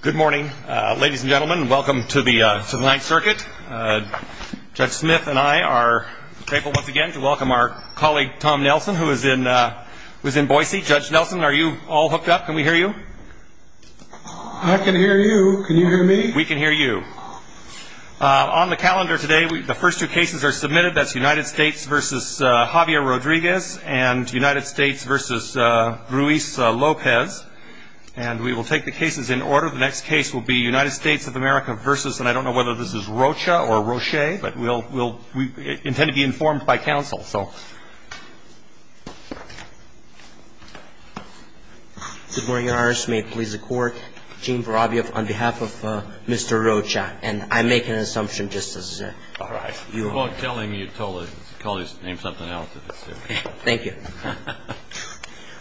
Good morning, ladies and gentlemen. Welcome to the Ninth Circuit. Judge Smith and I are grateful once again to welcome our colleague Tom Nelson, who is in Boise. Judge Nelson, are you all hooked up? Can we hear you? I can hear you. Can you hear me? We can hear you. On the calendar today, the first two cases are submitted. That's United States v. Javier Rodriguez and United States v. Ruiz Lopez. And we will take the cases in order. The next case will be United States of America v. and I don't know whether this is Rocha or Roche, but we intend to be informed by counsel, so. Good morning, Your Honor. May it please the Court. Gene Vorovyev on behalf of Mr. Rocha. And I make an assumption just as you are. I'm telling you to call his name something else. Thank you.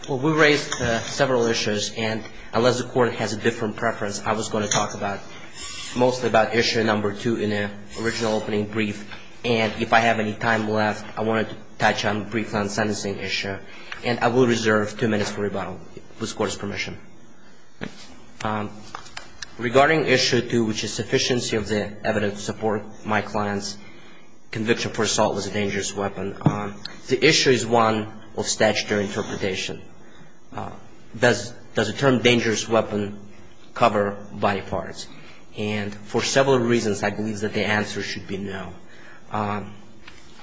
Well, we raised several issues, and unless the Court has a different preference, I was going to talk mostly about issue number two in the original opening brief. And if I have any time left, I wanted to touch on the brief on the sentencing issue. And I will reserve two minutes for rebuttal, with the Court's permission. Regarding issue two, which is sufficiency of the evidence to support my client's conviction for assault with a dangerous weapon, the issue is one of statutory interpretation. Does the term dangerous weapon cover body parts? And for several reasons, I believe that the answer should be no.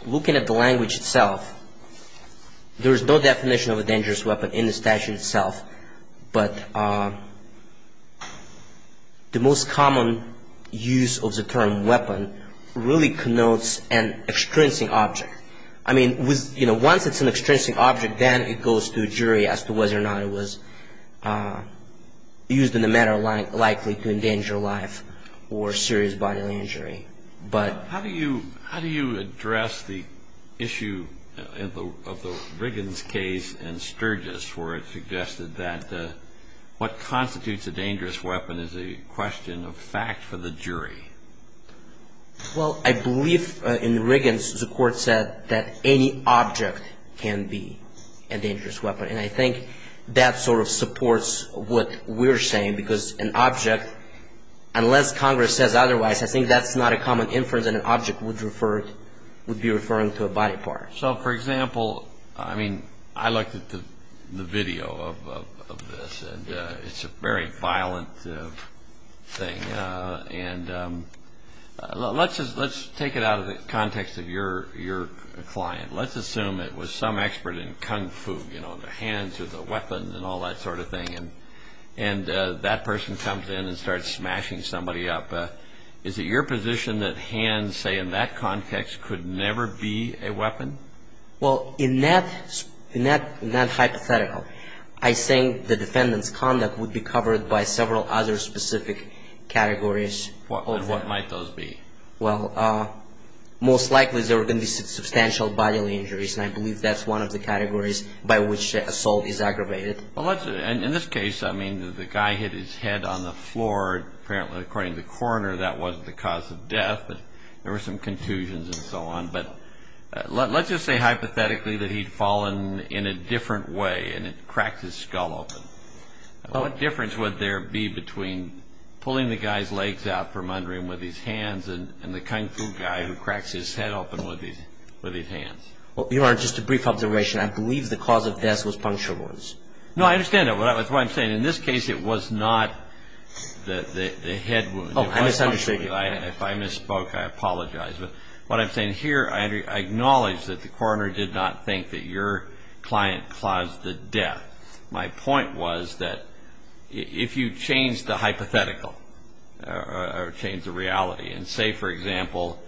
Looking at the language itself, there is no definition of a dangerous weapon in the statute itself, but the most common use of the term weapon really connotes an extrinsic object. I mean, once it's an extrinsic object, then it goes to a jury as to whether or not it was used in a manner likely to endanger life or serious bodily injury. How do you address the issue of the Riggins case and Sturgis, where it suggested that what constitutes a dangerous weapon is a question of fact for the jury? Well, I believe in Riggins, the Court said that any object can be a dangerous weapon. And I think that sort of supports what we're saying, because an object, unless Congress says otherwise, I think that's not a common inference that an object would be referring to a body part. So, for example, I mean, I looked at the video of this, and it's a very violent thing. And let's take it out of the context of your client. Let's assume it was some expert in kung fu, you know, the hands or the weapons and all that sort of thing. And that person comes in and starts smashing somebody up. Is it your position that hands, say, in that context, could never be a weapon? Well, in that hypothetical, I think the defendant's conduct would be covered by several other specific categories. And what might those be? Well, most likely, there are going to be substantial bodily injuries, and I believe that's one of the categories by which assault is aggravated. Well, in this case, I mean, the guy hit his head on the floor. Apparently, according to the coroner, that wasn't the cause of death, but there were some contusions and so on. But let's just say hypothetically that he'd fallen in a different way, and it cracked his skull open. What difference would there be between pulling the guy's legs out from under him with his hands and the kung fu guy who cracks his head open with his hands? Your Honor, just a brief observation. I believe the cause of death was puncture wounds. No, I understand that. That's what I'm saying. In this case, it was not the head wound. Oh, I misunderstood you. If I misspoke, I apologize. But what I'm saying here, I acknowledge that the coroner did not think that your client caused the death. My point was that if you change the hypothetical or change the reality and say, for example,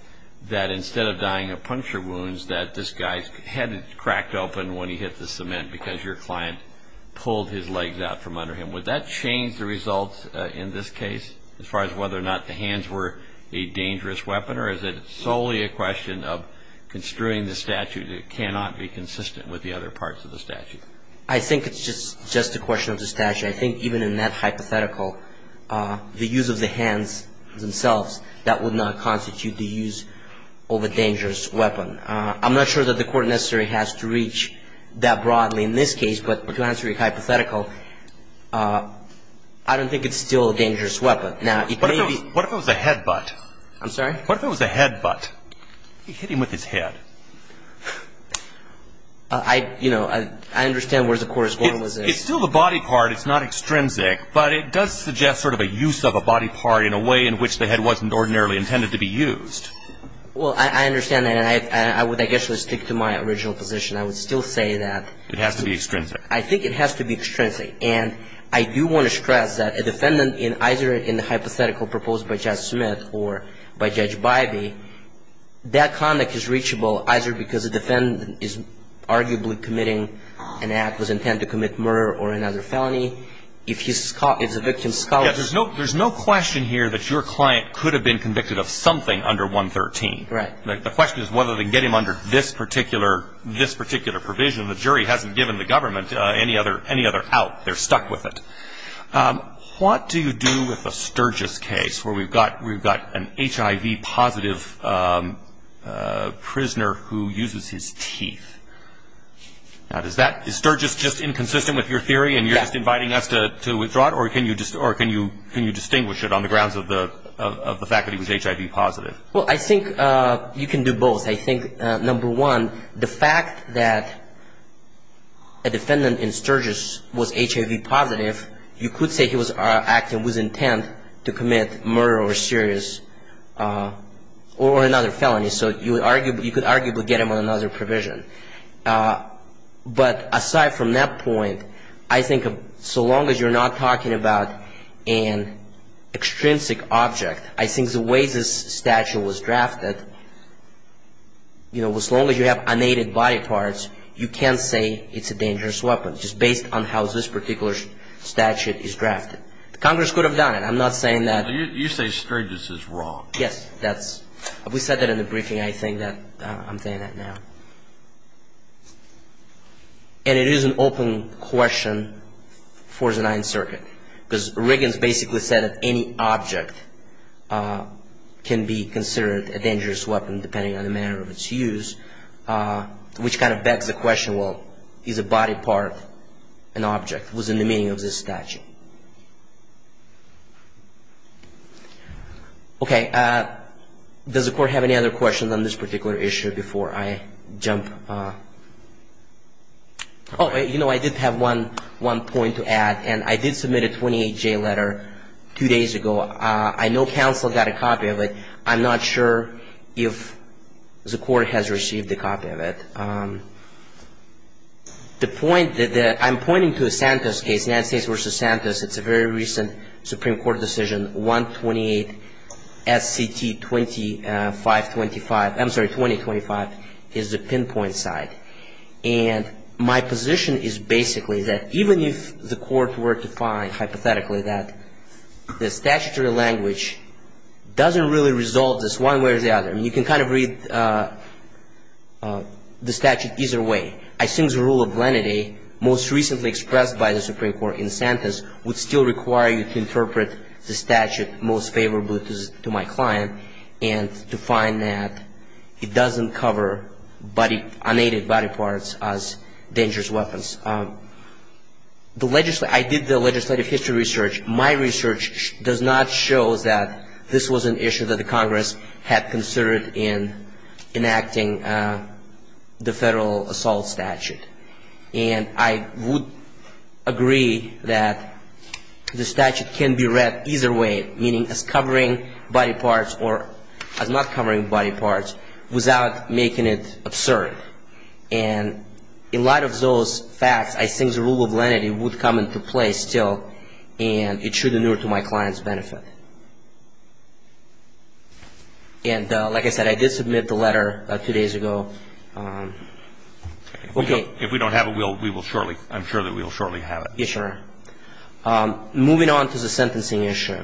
that instead of dying of puncture wounds, that this guy's head cracked open when he hit the cement because your client pulled his legs out from under him, would that change the results in this case as far as whether or not the hands were a dangerous weapon, or is it solely a question of construing the statute that cannot be consistent with the other parts of the statute? I think it's just a question of the statute. I think even in that hypothetical, the use of the hands themselves, that would not constitute the use of a dangerous weapon. I'm not sure that the court necessarily has to reach that broadly in this case, but to answer your hypothetical, I don't think it's still a dangerous weapon. What if it was a headbutt? I'm sorry? What if it was a headbutt? He hit him with his head. I understand where the court is going with this. It's still the body part. It's not extrinsic. But it does suggest sort of a use of a body part in a way in which the head wasn't ordinarily intended to be used. Well, I understand that. And I would, I guess, just stick to my original position. I would still say that. It has to be extrinsic. I think it has to be extrinsic. And I do want to stress that a defendant, either in the hypothetical proposed by Judge Smith or by Judge Bybee, that conduct is reachable either because a defendant is arguably committing an act that was intended to commit murder or another felony. If he's caught, if the victim's caught. There's no question here that your client could have been convicted of something under 113. Right. The question is whether they can get him under this particular provision. The jury hasn't given the government any other out. They're stuck with it. What do you do with a Sturgis case where we've got an HIV positive prisoner who uses his teeth? Now, is Sturgis just inconsistent with your theory and you're just inviting us to withdraw it? Or can you distinguish it on the grounds of the fact that he was HIV positive? Well, I think you can do both. I think, number one, the fact that a defendant in Sturgis was HIV positive, you could say he was acting with intent to commit murder or serious or another felony. So you could arguably get him under another provision. But aside from that point, I think so long as you're not talking about an extrinsic object, I think the way this statute was drafted, you know, as long as you have unaided body parts, you can't say it's a dangerous weapon just based on how this particular statute is drafted. Congress could have done it. I'm not saying that. You say Sturgis is wrong. Yes. We said that in the briefing. I think that I'm saying that now. And it is an open question for the Ninth Circuit. Because Riggins basically said that any object can be considered a dangerous weapon depending on the manner of its use, which kind of begs the question, well, is a body part an object? What's in the meaning of this statute? Okay. Does the Court have any other questions on this particular issue before I jump? Oh, you know, I did have one point to add. And I did submit a 28J letter two days ago. I know counsel got a copy of it. I'm not sure if the Court has received a copy of it. The point that I'm pointing to is Santos' case, Nancy's v. Santos. It's a very recent Supreme Court decision, 128 S.C.T. 2525. I'm sorry, 2025 is the pinpoint side. And my position is basically that even if the Court were to find hypothetically that the statutory language doesn't really resolve this one way or the other, I mean, you can kind of read the statute either way. I think the rule of lenity most recently expressed by the Supreme Court in Santos would still require you to interpret the statute most favorably to my client and to find that it doesn't cover unaided body parts as dangerous weapons. I did the legislative history research. My research does not show that this was an issue that the Congress had considered in enacting the federal assault statute. And I would agree that the statute can be read either way, meaning as covering body parts or as not covering body parts, without making it absurd. And in light of those facts, I think the rule of lenity would come into play still, and it should inure to my client's benefit. And like I said, I did submit the letter two days ago. Okay. If we don't have it, we will shortly, I'm sure that we will shortly have it. Yes, sir. Moving on to the sentencing issue,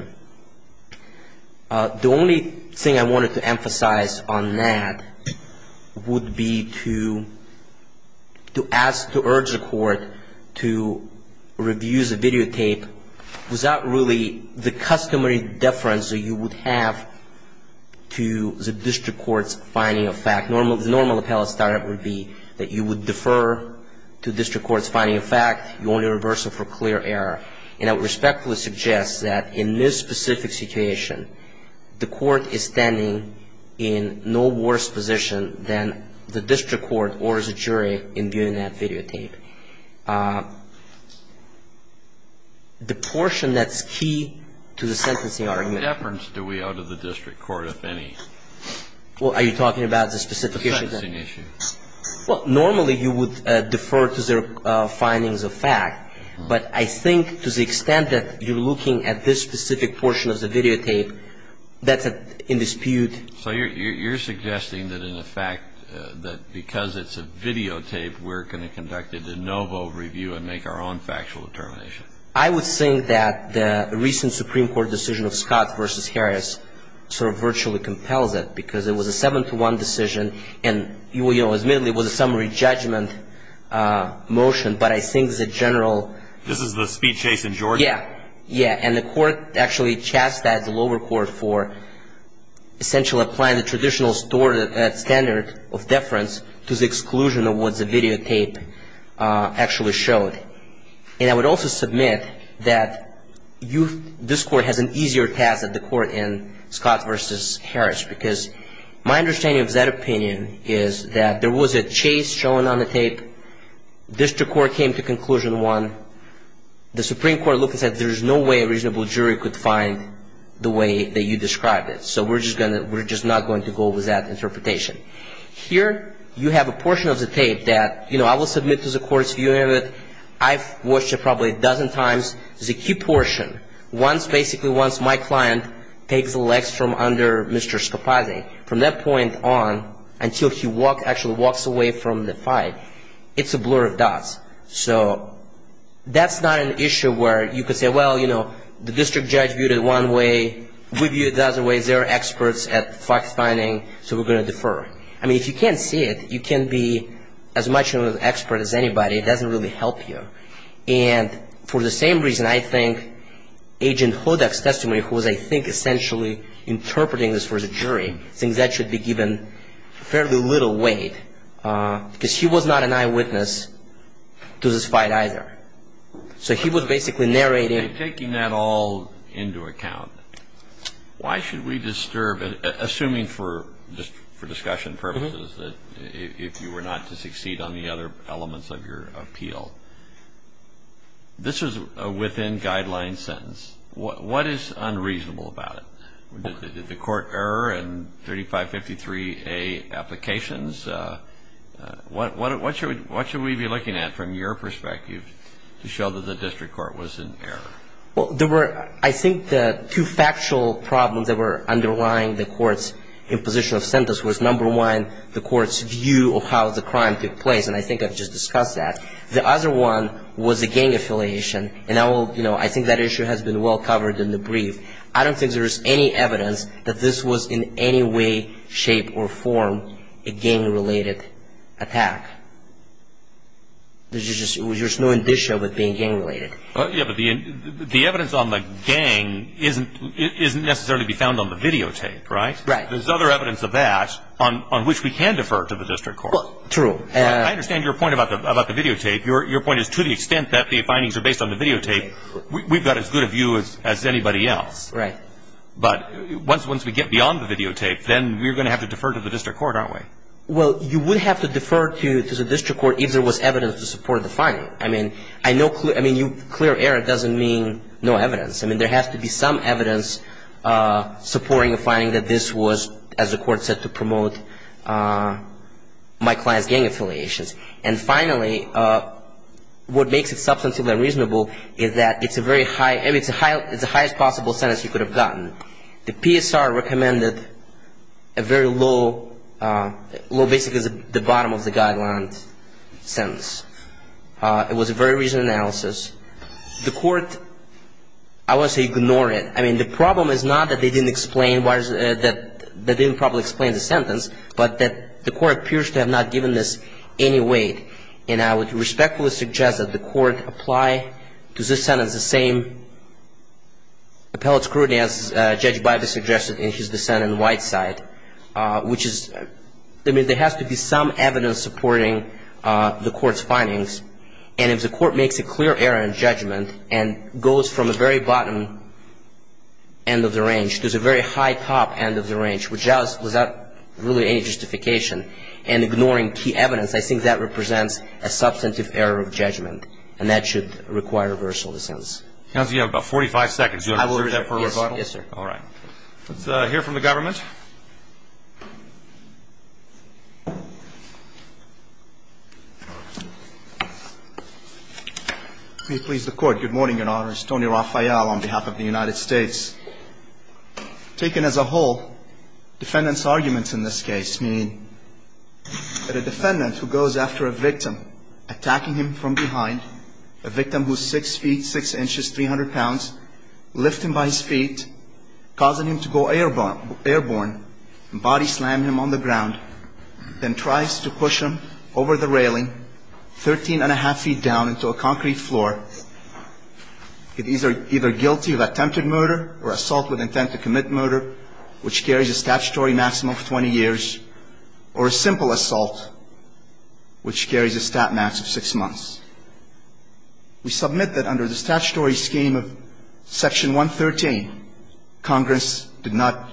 the only thing I wanted to emphasize on that would be to ask, to urge the Court to review the videotape without really the customary deference you would have to the district court's finding of fact. The normal appellate statute would be that you would defer to district court's finding of fact. You only reverse it for clear error. And I would respectfully suggest that in this specific situation, the Court is standing in no worse position than the district court or as a jury in viewing that videotape. The portion that's key to the sentencing argument. What deference do we owe to the district court, if any? Well, are you talking about the specific issue? The sentencing issue. Well, normally you would defer to their findings of fact. But I think to the extent that you're looking at this specific portion of the videotape, that's in dispute. So you're suggesting that in effect, that because it's a videotape, we're going to conduct a de novo review and make our own factual determination. I would think that the recent Supreme Court decision of Scott v. Harris sort of virtually compels it because it was a seven-to-one decision. And, you know, admittedly it was a summary judgment motion, but I think the general. This is the speed chase in Georgia. Yeah. Yeah. And the Court actually chastised the lower court for essentially applying the traditional standard of deference to the exclusion of what the videotape actually showed. And I would also submit that this Court has an easier task than the Court in Scott v. Harris because my understanding of that opinion is that there was a chase shown on the tape. District Court came to conclusion one. The Supreme Court looked and said there's no way a reasonable jury could find the way that you described it. So we're just not going to go with that interpretation. Here you have a portion of the tape that, you know, I will submit to the Court's view of it. I've watched it probably a dozen times. The key portion, once basically my client takes the legs from under Mr. Scarpazzi, from that point on until he actually walks away from the fight, it's a blur of dots. So that's not an issue where you could say, well, you know, the district judge viewed it one way. We viewed it the other way. Is there experts at fact-finding? So we're going to defer. I mean, if you can't see it, you can't be as much of an expert as anybody. It doesn't really help you. And for the same reason, I think Agent Hodak's testimony, who was, I think, essentially interpreting this for the jury, thinks that should be given fairly little weight because he was not an eyewitness to this fight either. So he was basically narrating. Taking that all into account, why should we disturb, assuming for discussion purposes, if you were not to succeed on the other elements of your appeal, this was a within-guidelines sentence. What is unreasonable about it? Did the court error in 3553A applications? What should we be looking at from your perspective to show that the district court was in error? Well, there were, I think, the two factual problems that were underlying the court's imposition of sentence was, number one, the court's view of how the crime took place. And I think I've just discussed that. The other one was the gang affiliation. And I will, you know, I think that issue has been well covered in the brief. I don't think there is any evidence that this was in any way, shape, or form a gang-related attack. There's just no indicia of it being gang-related. Yeah, but the evidence on the gang isn't necessarily to be found on the videotape, right? Right. There's other evidence of that on which we can defer to the district court. True. I understand your point about the videotape. Your point is to the extent that the findings are based on the videotape, we've got as good a view as anybody else. Right. But once we get beyond the videotape, then we're going to have to defer to the district court, aren't we? Well, you would have to defer to the district court if there was evidence to support the finding. I mean, clear error doesn't mean no evidence. I mean, there has to be some evidence supporting a finding that this was, as the court said, to promote my client's gang affiliations. And finally, what makes it substantive and reasonable is that it's a very high, it's the highest possible sentence you could have gotten. The PSR recommended a very low, basically the bottom of the guideline sentence. It was a very reasonable analysis. The court, I would say, ignored it. I mean, the problem is not that they didn't explain, that they didn't properly explain the sentence, but that the court appears to have not given this any weight. And I would respectfully suggest that the court apply to this sentence the same appellate scrutiny as Judge Bybee suggested in his dissent in Whiteside, which is, I mean, there has to be some evidence supporting the court's findings. And if the court makes a clear error in judgment and goes from a very bottom end of the range to the very high top end of the range, without really any justification and ignoring key evidence, I think that represents a substantive error of judgment, and that should require reversal of the sentence. Counsel, you have about 45 seconds. Do you want to reserve that for rebuttal? Yes, sir. All right. Let's hear from the government. May it please the Court, good morning, Your Honor. It's Tony Raphael on behalf of the United States. Taken as a whole, defendants' arguments in this case mean that a defendant who goes after a victim, attacking him from behind, a victim who's 6 feet 6 inches 300 pounds, lift him by his feet, causing him to go airborne and body slam him on the ground, then tries to push him over the railing 13 1⁄2 feet down into a concrete floor, is either guilty of attempted murder or assault with intent to commit murder, which carries a statutory maximum of 20 years, or a simple assault, which carries a stat max of 6 months. We submit that under the statutory scheme of Section 113, Congress did not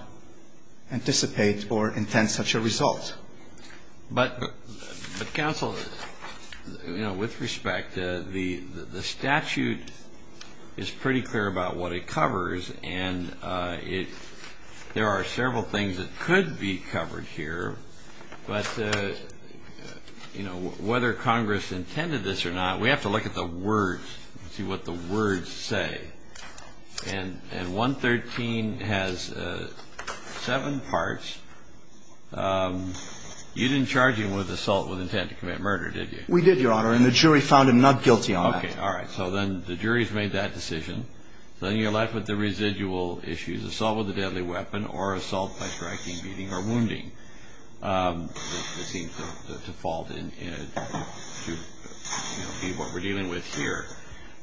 anticipate or intend such a result. But, Counsel, you know, with respect, the statute is pretty clear about what it covers, and there are several things that could be covered here. But, you know, whether Congress intended this or not, we have to look at the words, see what the words say. And 113 has seven parts. You didn't charge him with assault with intent to commit murder, did you? We did, Your Honor, and the jury found him not guilty on that. Okay. All right. So then the jury's made that decision. So then you're left with the residual issues, assault with a deadly weapon, or assault by striking, beating, or wounding, that seems to fall to be what we're dealing with here.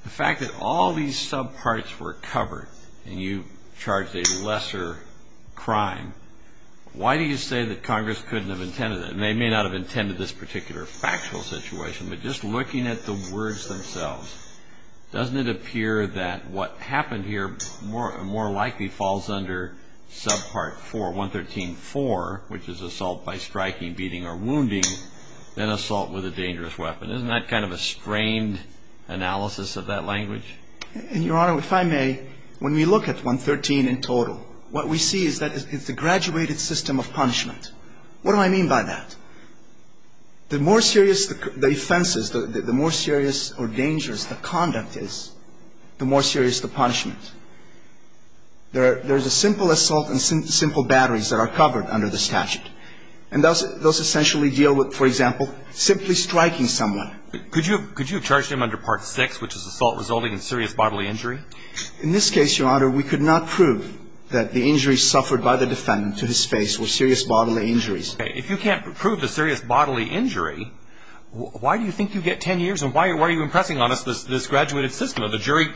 The fact that all these subparts were covered, and you charged a lesser crime, why do you say that Congress couldn't have intended that? And they may not have intended this particular factual situation, but just looking at the words themselves, doesn't it appear that what happened here more likely falls under subpart 4, 113.4, which is assault by striking, beating, or wounding, than assault with a dangerous weapon. Isn't that kind of a strained analysis of that language? And, Your Honor, if I may, when we look at 113 in total, what we see is that it's a graduated system of punishment. What do I mean by that? The more serious the offense is, the more serious or dangerous the conduct is, the more serious the punishment. There's a simple assault and simple batteries that are covered under the statute, and those essentially deal with, for example, simply striking someone. Could you have charged him under part 6, which is assault resulting in serious bodily injury? In this case, Your Honor, we could not prove that the injuries suffered by the defendant to his face were serious bodily injuries. If you can't prove the serious bodily injury, why do you think you get 10 years and why are you impressing on us this graduated system? The jury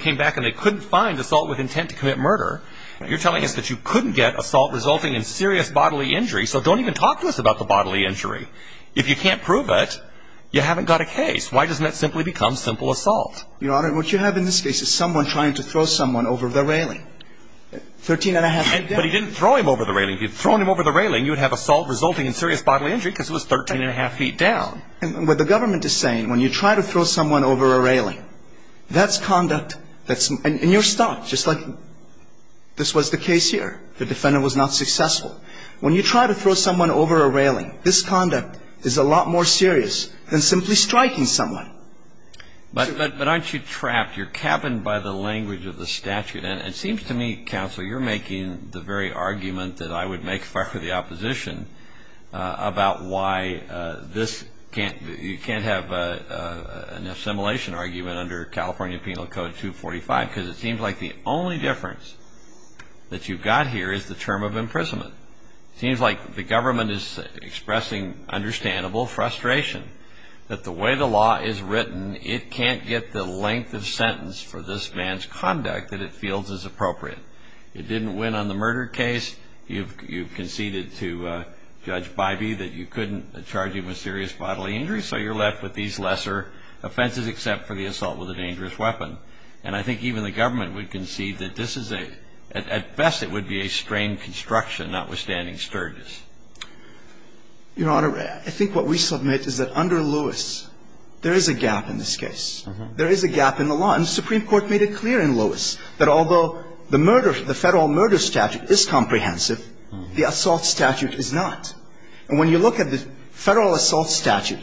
came back and they couldn't find assault with intent to commit murder. You're telling us that you couldn't get assault resulting in serious bodily injury, so don't even talk to us about the bodily injury. If you can't prove it, you haven't got a case. Why doesn't that simply become simple assault? Your Honor, what you have in this case is someone trying to throw someone over the railing, 13 1⁄2 feet down. But he didn't throw him over the railing. If you'd thrown him over the railing, you would have assault resulting in serious bodily injury because it was 13 1⁄2 feet down. What the government is saying, when you try to throw someone over a railing, that's conduct that's in your stock, just like this was the case here. The defendant was not successful. When you try to throw someone over a railing, this conduct is a lot more serious than simply striking someone. But aren't you trapped? You're capped by the language of the statute. And it seems to me, counsel, you're making the very argument that I would make for the opposition about why you can't have an assimilation argument under California Penal Code 245 because it seems like the only difference that you've got here is the term of imprisonment. It seems like the government is expressing understandable frustration that the way the law is written, it can't get the length of sentence for this man's conduct that it feels is appropriate. It didn't win on the murder case. You've conceded to Judge Bybee that you couldn't charge him with serious bodily injury, so you're left with these lesser offenses except for the assault with a dangerous weapon. And I think even the government would concede that this is a ‑‑ at best it would be a strained construction, notwithstanding Sturgis. Your Honor, I think what we submit is that under Lewis, there is a gap in this case. There is a gap in the law. And the Supreme Court made it clear in Lewis that although the federal murder statute is comprehensive, the assault statute is not. And when you look at the federal assault statute,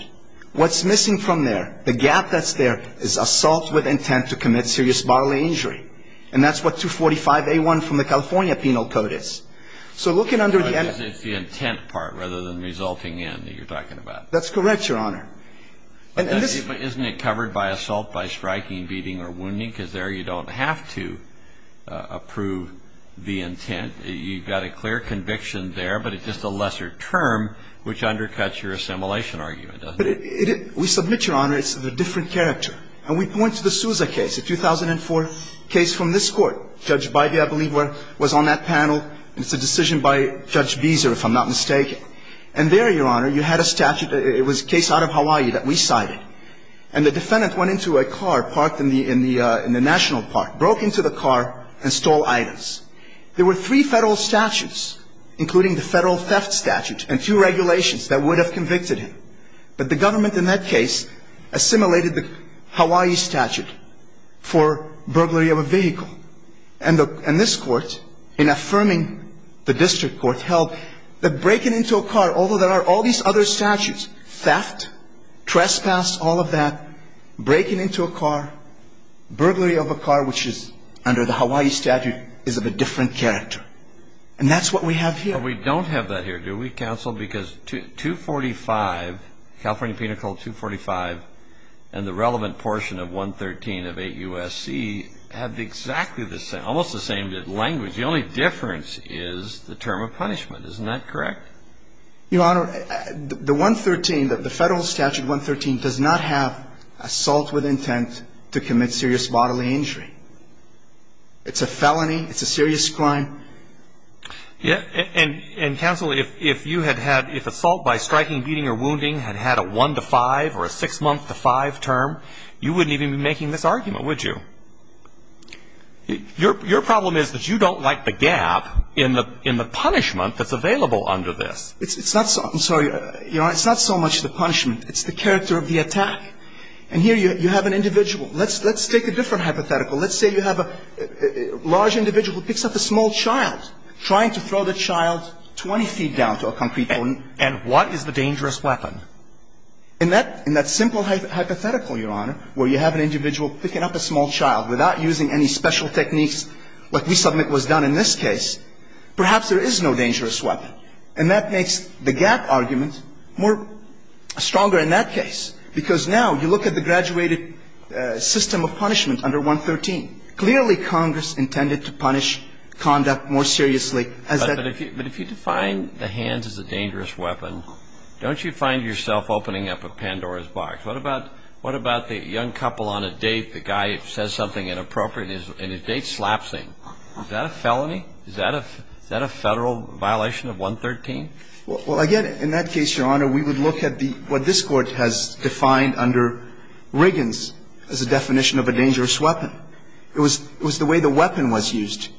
what's missing from there, the gap that's there is assault with intent to commit serious bodily injury. And that's what 245A1 from the California Penal Code is. So looking under the ‑‑ It's the intent part rather than resulting in that you're talking about. That's correct, Your Honor. Isn't it covered by assault by striking, beating or wounding? The intent part is there. You don't have to approve the intent. You've got a clear conviction there, but it's just a lesser term which undercuts your assimilation argument, doesn't it? We submit, Your Honor, it's a different character. And we point to the Souza case, a 2004 case from this Court. Judge Bivy, I believe, was on that panel. It's a decision by Judge Beeser, if I'm not mistaken. And there, Your Honor, you had a statute. It was a case out of Hawaii that we cited. And the defendant went into a car parked in the national park, broke into the car and stole items. There were three Federal statutes, including the Federal theft statute and two regulations that would have convicted him. But the government in that case assimilated the Hawaii statute for burglary of a vehicle. And this Court, in affirming the district court, held that breaking into a car, although there are all these other statutes, theft, trespass, all of that, breaking into a car, burglary of a car, which is under the Hawaii statute, is of a different character. And that's what we have here. But we don't have that here, do we, counsel? Because 245, California Penal Code 245 and the relevant portion of 113 of 8 U.S.C. have exactly the same, almost the same language. The only difference is the term of punishment. Isn't that correct? Your Honor, the 113, the Federal statute 113 does not have assault with intent to commit serious bodily injury. It's a felony. It's a serious crime. And, counsel, if you had had, if assault by striking, beating or wounding had had a one-to-five or a six-month-to-five term, you wouldn't even be making this argument, would you? Your problem is that you don't like the gap in the punishment that's available under this. It's not so, I'm sorry, Your Honor, it's not so much the punishment. It's the character of the attack. And here you have an individual. Let's take a different hypothetical. Let's say you have a large individual who picks up a small child, trying to throw the child 20 feet down to a concrete pole. And what is the dangerous weapon? In that simple hypothetical, Your Honor, where you have an individual picking up a small child, without using any special techniques like we submit was done in this case, perhaps there is no dangerous weapon. And that makes the gap argument more stronger in that case, because now you look at the graduated system of punishment under 113. Clearly, Congress intended to punish conduct more seriously as that. But if you define the hands as a dangerous weapon, don't you find yourself opening up a Pandora's box? What about the young couple on a date? The guy says something inappropriate and his date slaps him. Is that a felony? Is that a Federal violation of 113? Well, again, in that case, Your Honor, we would look at what this Court has defined under Riggins as a definition of a dangerous weapon. It was the way the weapon was used.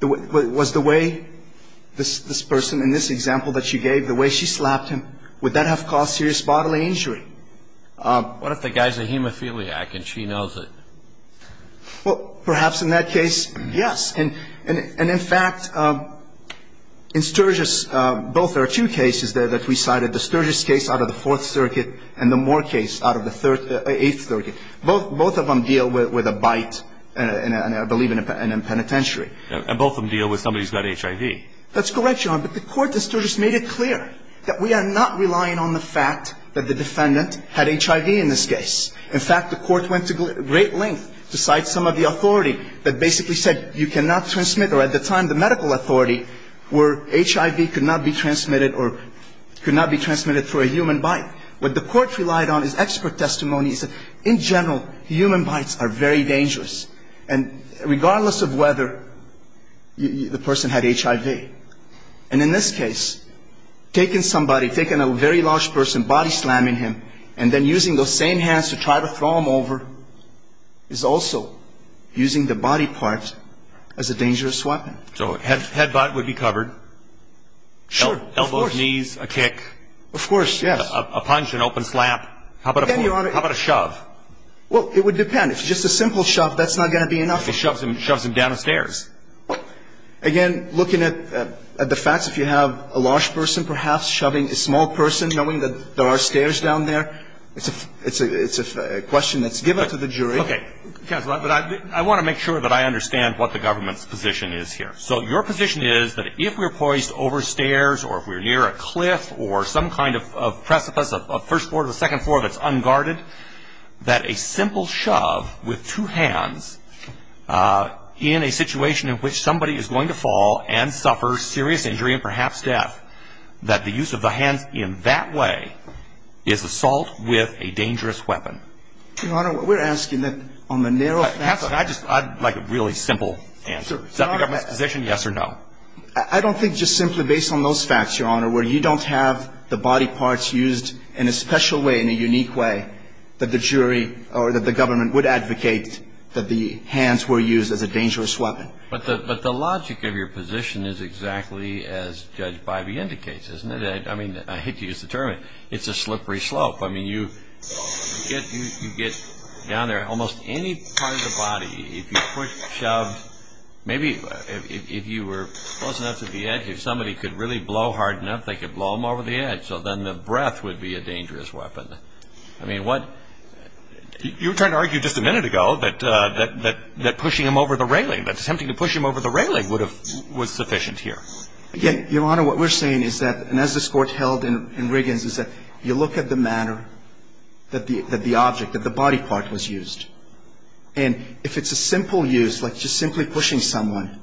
Was the way this person in this example that she gave, the way she slapped him, would that have caused serious bodily injury? What if the guy is a hemophiliac and she knows it? Well, perhaps in that case, yes. And, in fact, in Sturgis, both are two cases that we cited, the Sturgis case out of the Fourth Circuit and the Moore case out of the Eighth Circuit. Both of them deal with a bite, I believe, in a penitentiary. And both of them deal with somebody who's got HIV. That's correct, Your Honor. But the Court in Sturgis made it clear that we are not relying on the fact that the defendant had HIV in this case. In fact, the Court went to great lengths to cite some of the authority that basically said you cannot transmit, or at the time the medical authority, where HIV could not be transmitted or could not be transmitted through a human bite. What the Court relied on is expert testimony. It said, in general, human bites are very dangerous. And regardless of whether the person had HIV, and in this case, taking somebody, taking a very large person, body-slamming him, and then using those same hands to try to throw him over is also using the body part as a dangerous weapon. So head-butt would be covered. Sure, of course. Elbows, knees, a kick. Of course, yes. A punch, an open slap. Then, Your Honor. How about a shove? Well, it would depend. If it's just a simple shove, that's not going to be enough. He shoves him down the stairs. Again, looking at the facts, if you have a large person perhaps shoving a small person, knowing that there are stairs down there, it's a question that's given to the jury. Okay. Counsel, I want to make sure that I understand what the government's position is here. So your position is that if we're poised over stairs or if we're near a cliff or some kind of precipice, a first floor to the second floor that's unguarded, that a simple shove with two hands in a situation in which somebody is going to fall and suffer serious injury and perhaps death, that the use of the hands in that way is assault with a dangerous weapon? Your Honor, we're asking that on the narrow facts. I'd like a really simple answer. Is that the government's position, yes or no? I don't think just simply based on those facts, Your Honor, where you don't have the body parts used in a special way, in a unique way, that the jury or that the government would advocate that the hands were used as a dangerous weapon. But the logic of your position is exactly as Judge Bybee indicates, isn't it? I mean, I hate to use the term, but it's a slippery slope. I mean, you get down there. Maybe if you were close enough to the edge, if somebody could really blow hard enough, they could blow him over the edge, so then the breath would be a dangerous weapon. I mean, you were trying to argue just a minute ago that pushing him over the railing, that attempting to push him over the railing was sufficient here. Again, Your Honor, what we're saying is that, and as this Court held in Riggins, is that you look at the manner that the object, that the body part was used. And if it's a simple use, like just simply pushing someone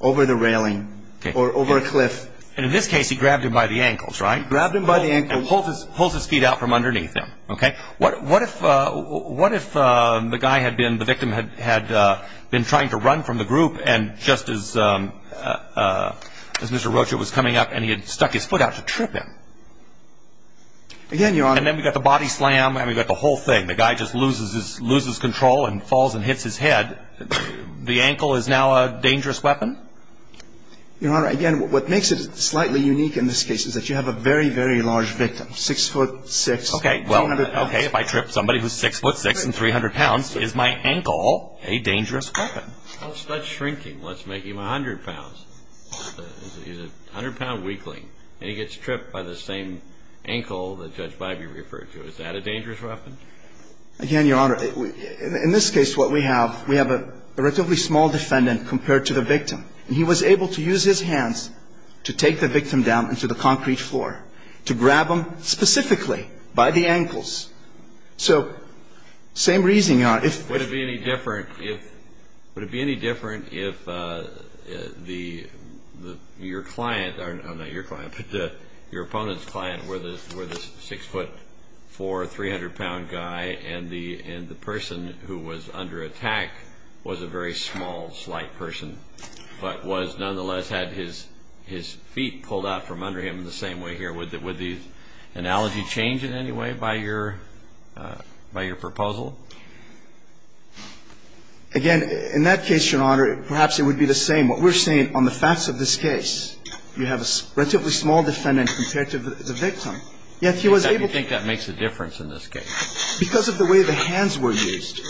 over the railing or over a cliff. And in this case, he grabbed him by the ankles, right? He grabbed him by the ankles. And pulls his feet out from underneath him. Okay. What if the guy had been, the victim had been trying to run from the group, and just as Mr. Rocha was coming up, and he had stuck his foot out to trip him? Again, Your Honor. And then we've got the body slam, and we've got the whole thing. The guy just loses control and falls and hits his head. The ankle is now a dangerous weapon? Your Honor, again, what makes it slightly unique in this case is that you have a very, very large victim. Six foot six. Okay. If I trip somebody who's six foot six and 300 pounds, is my ankle a dangerous weapon? What's that shrinking? What's making him 100 pounds? He's a 100 pound weakling. And he gets tripped by the same ankle that Judge Bybee referred to. Is that a dangerous weapon? Again, Your Honor, in this case what we have, we have a relatively small defendant compared to the victim. And he was able to use his hands to take the victim down into the concrete floor. To grab him specifically by the ankles. So same reason, Your Honor. Would it be any different if, would it be any different if the, your client, or not your client, but your opponent's client were the six foot four, 300 pound guy, and the person who was under attack was a very small, slight person, but was nonetheless had his feet pulled out from under him the same way here? Would the analogy change in any way by your proposal? Again, in that case, Your Honor, perhaps it would be the same. Again, what we're saying on the facts of this case, you have a relatively small defendant compared to the victim. Yet he was able to. You think that makes a difference in this case? Because of the way the hands were used.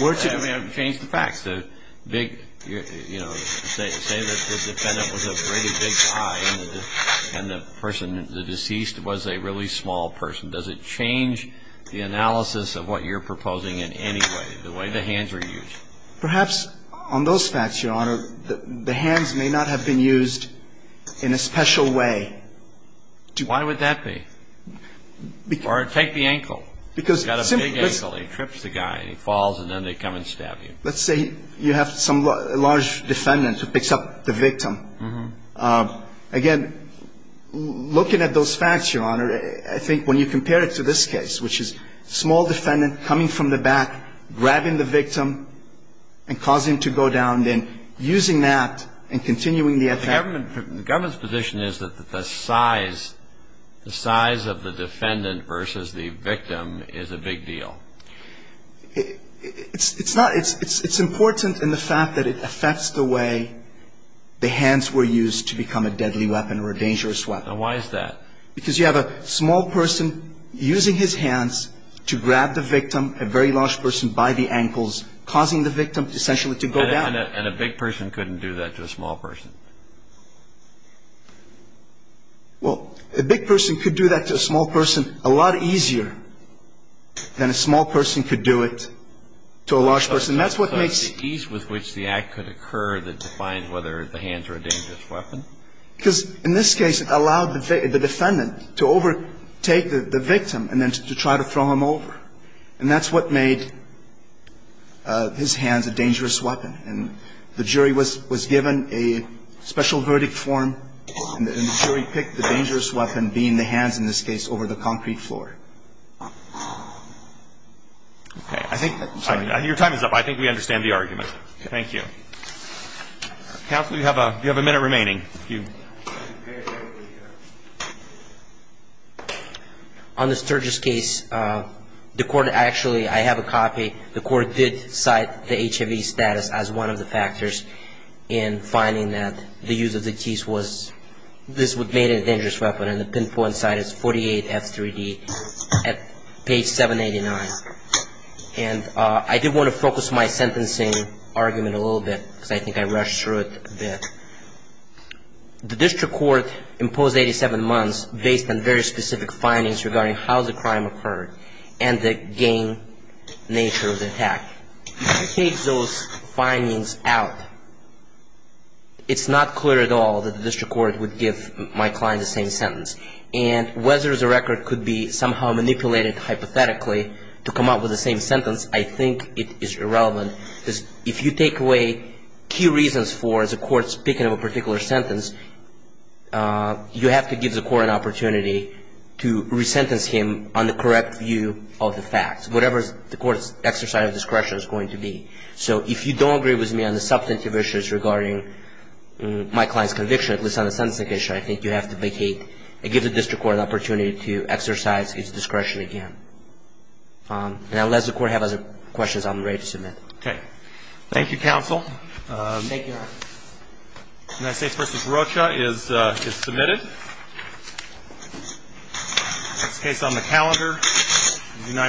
I mean, change the facts. The big, you know, say that the defendant was a pretty big guy and the person, the deceased was a really small person. Does it change the analysis of what you're proposing in any way, the way the hands were used? Perhaps on those facts, Your Honor, the hands may not have been used in a special way. Why would that be? Or take the ankle. Because simply. He's got a big ankle. He trips the guy and he falls and then they come and stab you. Let's say you have some large defendant who picks up the victim. Again, looking at those facts, Your Honor, I think when you compare it to this case, which is small defendant coming from the back, grabbing the victim and causing him to go down, then using that and continuing the attack. The government's position is that the size of the defendant versus the victim is a big deal. It's not. It's important in the fact that it affects the way the hands were used to become a deadly weapon or a dangerous weapon. Why is that? Because you have a small person using his hands to grab the victim, a very large person by the ankles, causing the victim essentially to go down. And a big person couldn't do that to a small person. Well, a big person could do that to a small person a lot easier than a small person could do it to a large person. That's what makes. The ease with which the act could occur that defines whether the hands are a dangerous weapon? Because in this case, it allowed the defendant to overtake the victim and then to try to throw him over. And that's what made his hands a dangerous weapon. And the jury was given a special verdict form, and the jury picked the dangerous weapon being the hands in this case over the concrete floor. Okay. I think your time is up. I think we understand the argument. Thank you. Counsel, you have a minute remaining. On the Sturgis case, the court actually, I have a copy, the court did cite the HIV status as one of the factors in finding that the use of the teeth was, this would have made it a dangerous weapon. And the pinpoint site is 48F3D at page 789. And I did want to focus my sentencing argument a little bit because I think I rushed through it a bit. The district court imposed 87 months based on very specific findings regarding how the crime occurred and the gang nature of the attack. If you take those findings out, it's not clear at all that the district court would give my client the same sentence. And whether the record could be somehow manipulated hypothetically to come up with the same sentence, I think it is irrelevant. If you take away key reasons for the court speaking of a particular sentence, you have to give the court an opportunity to re-sentence him on the correct view of the facts, whatever the court's exercise of discretion is going to be. So if you don't agree with me on the substantive issues regarding my client's conviction, at least on the sentencing issue, I think you have to vacate and give the district court an opportunity to exercise his discretion again. And I'll let the court have other questions. I'm ready to submit. Okay. Thank you, counsel. Thank you, Your Honor. United States v. Rocha is submitted. It's on the calendar.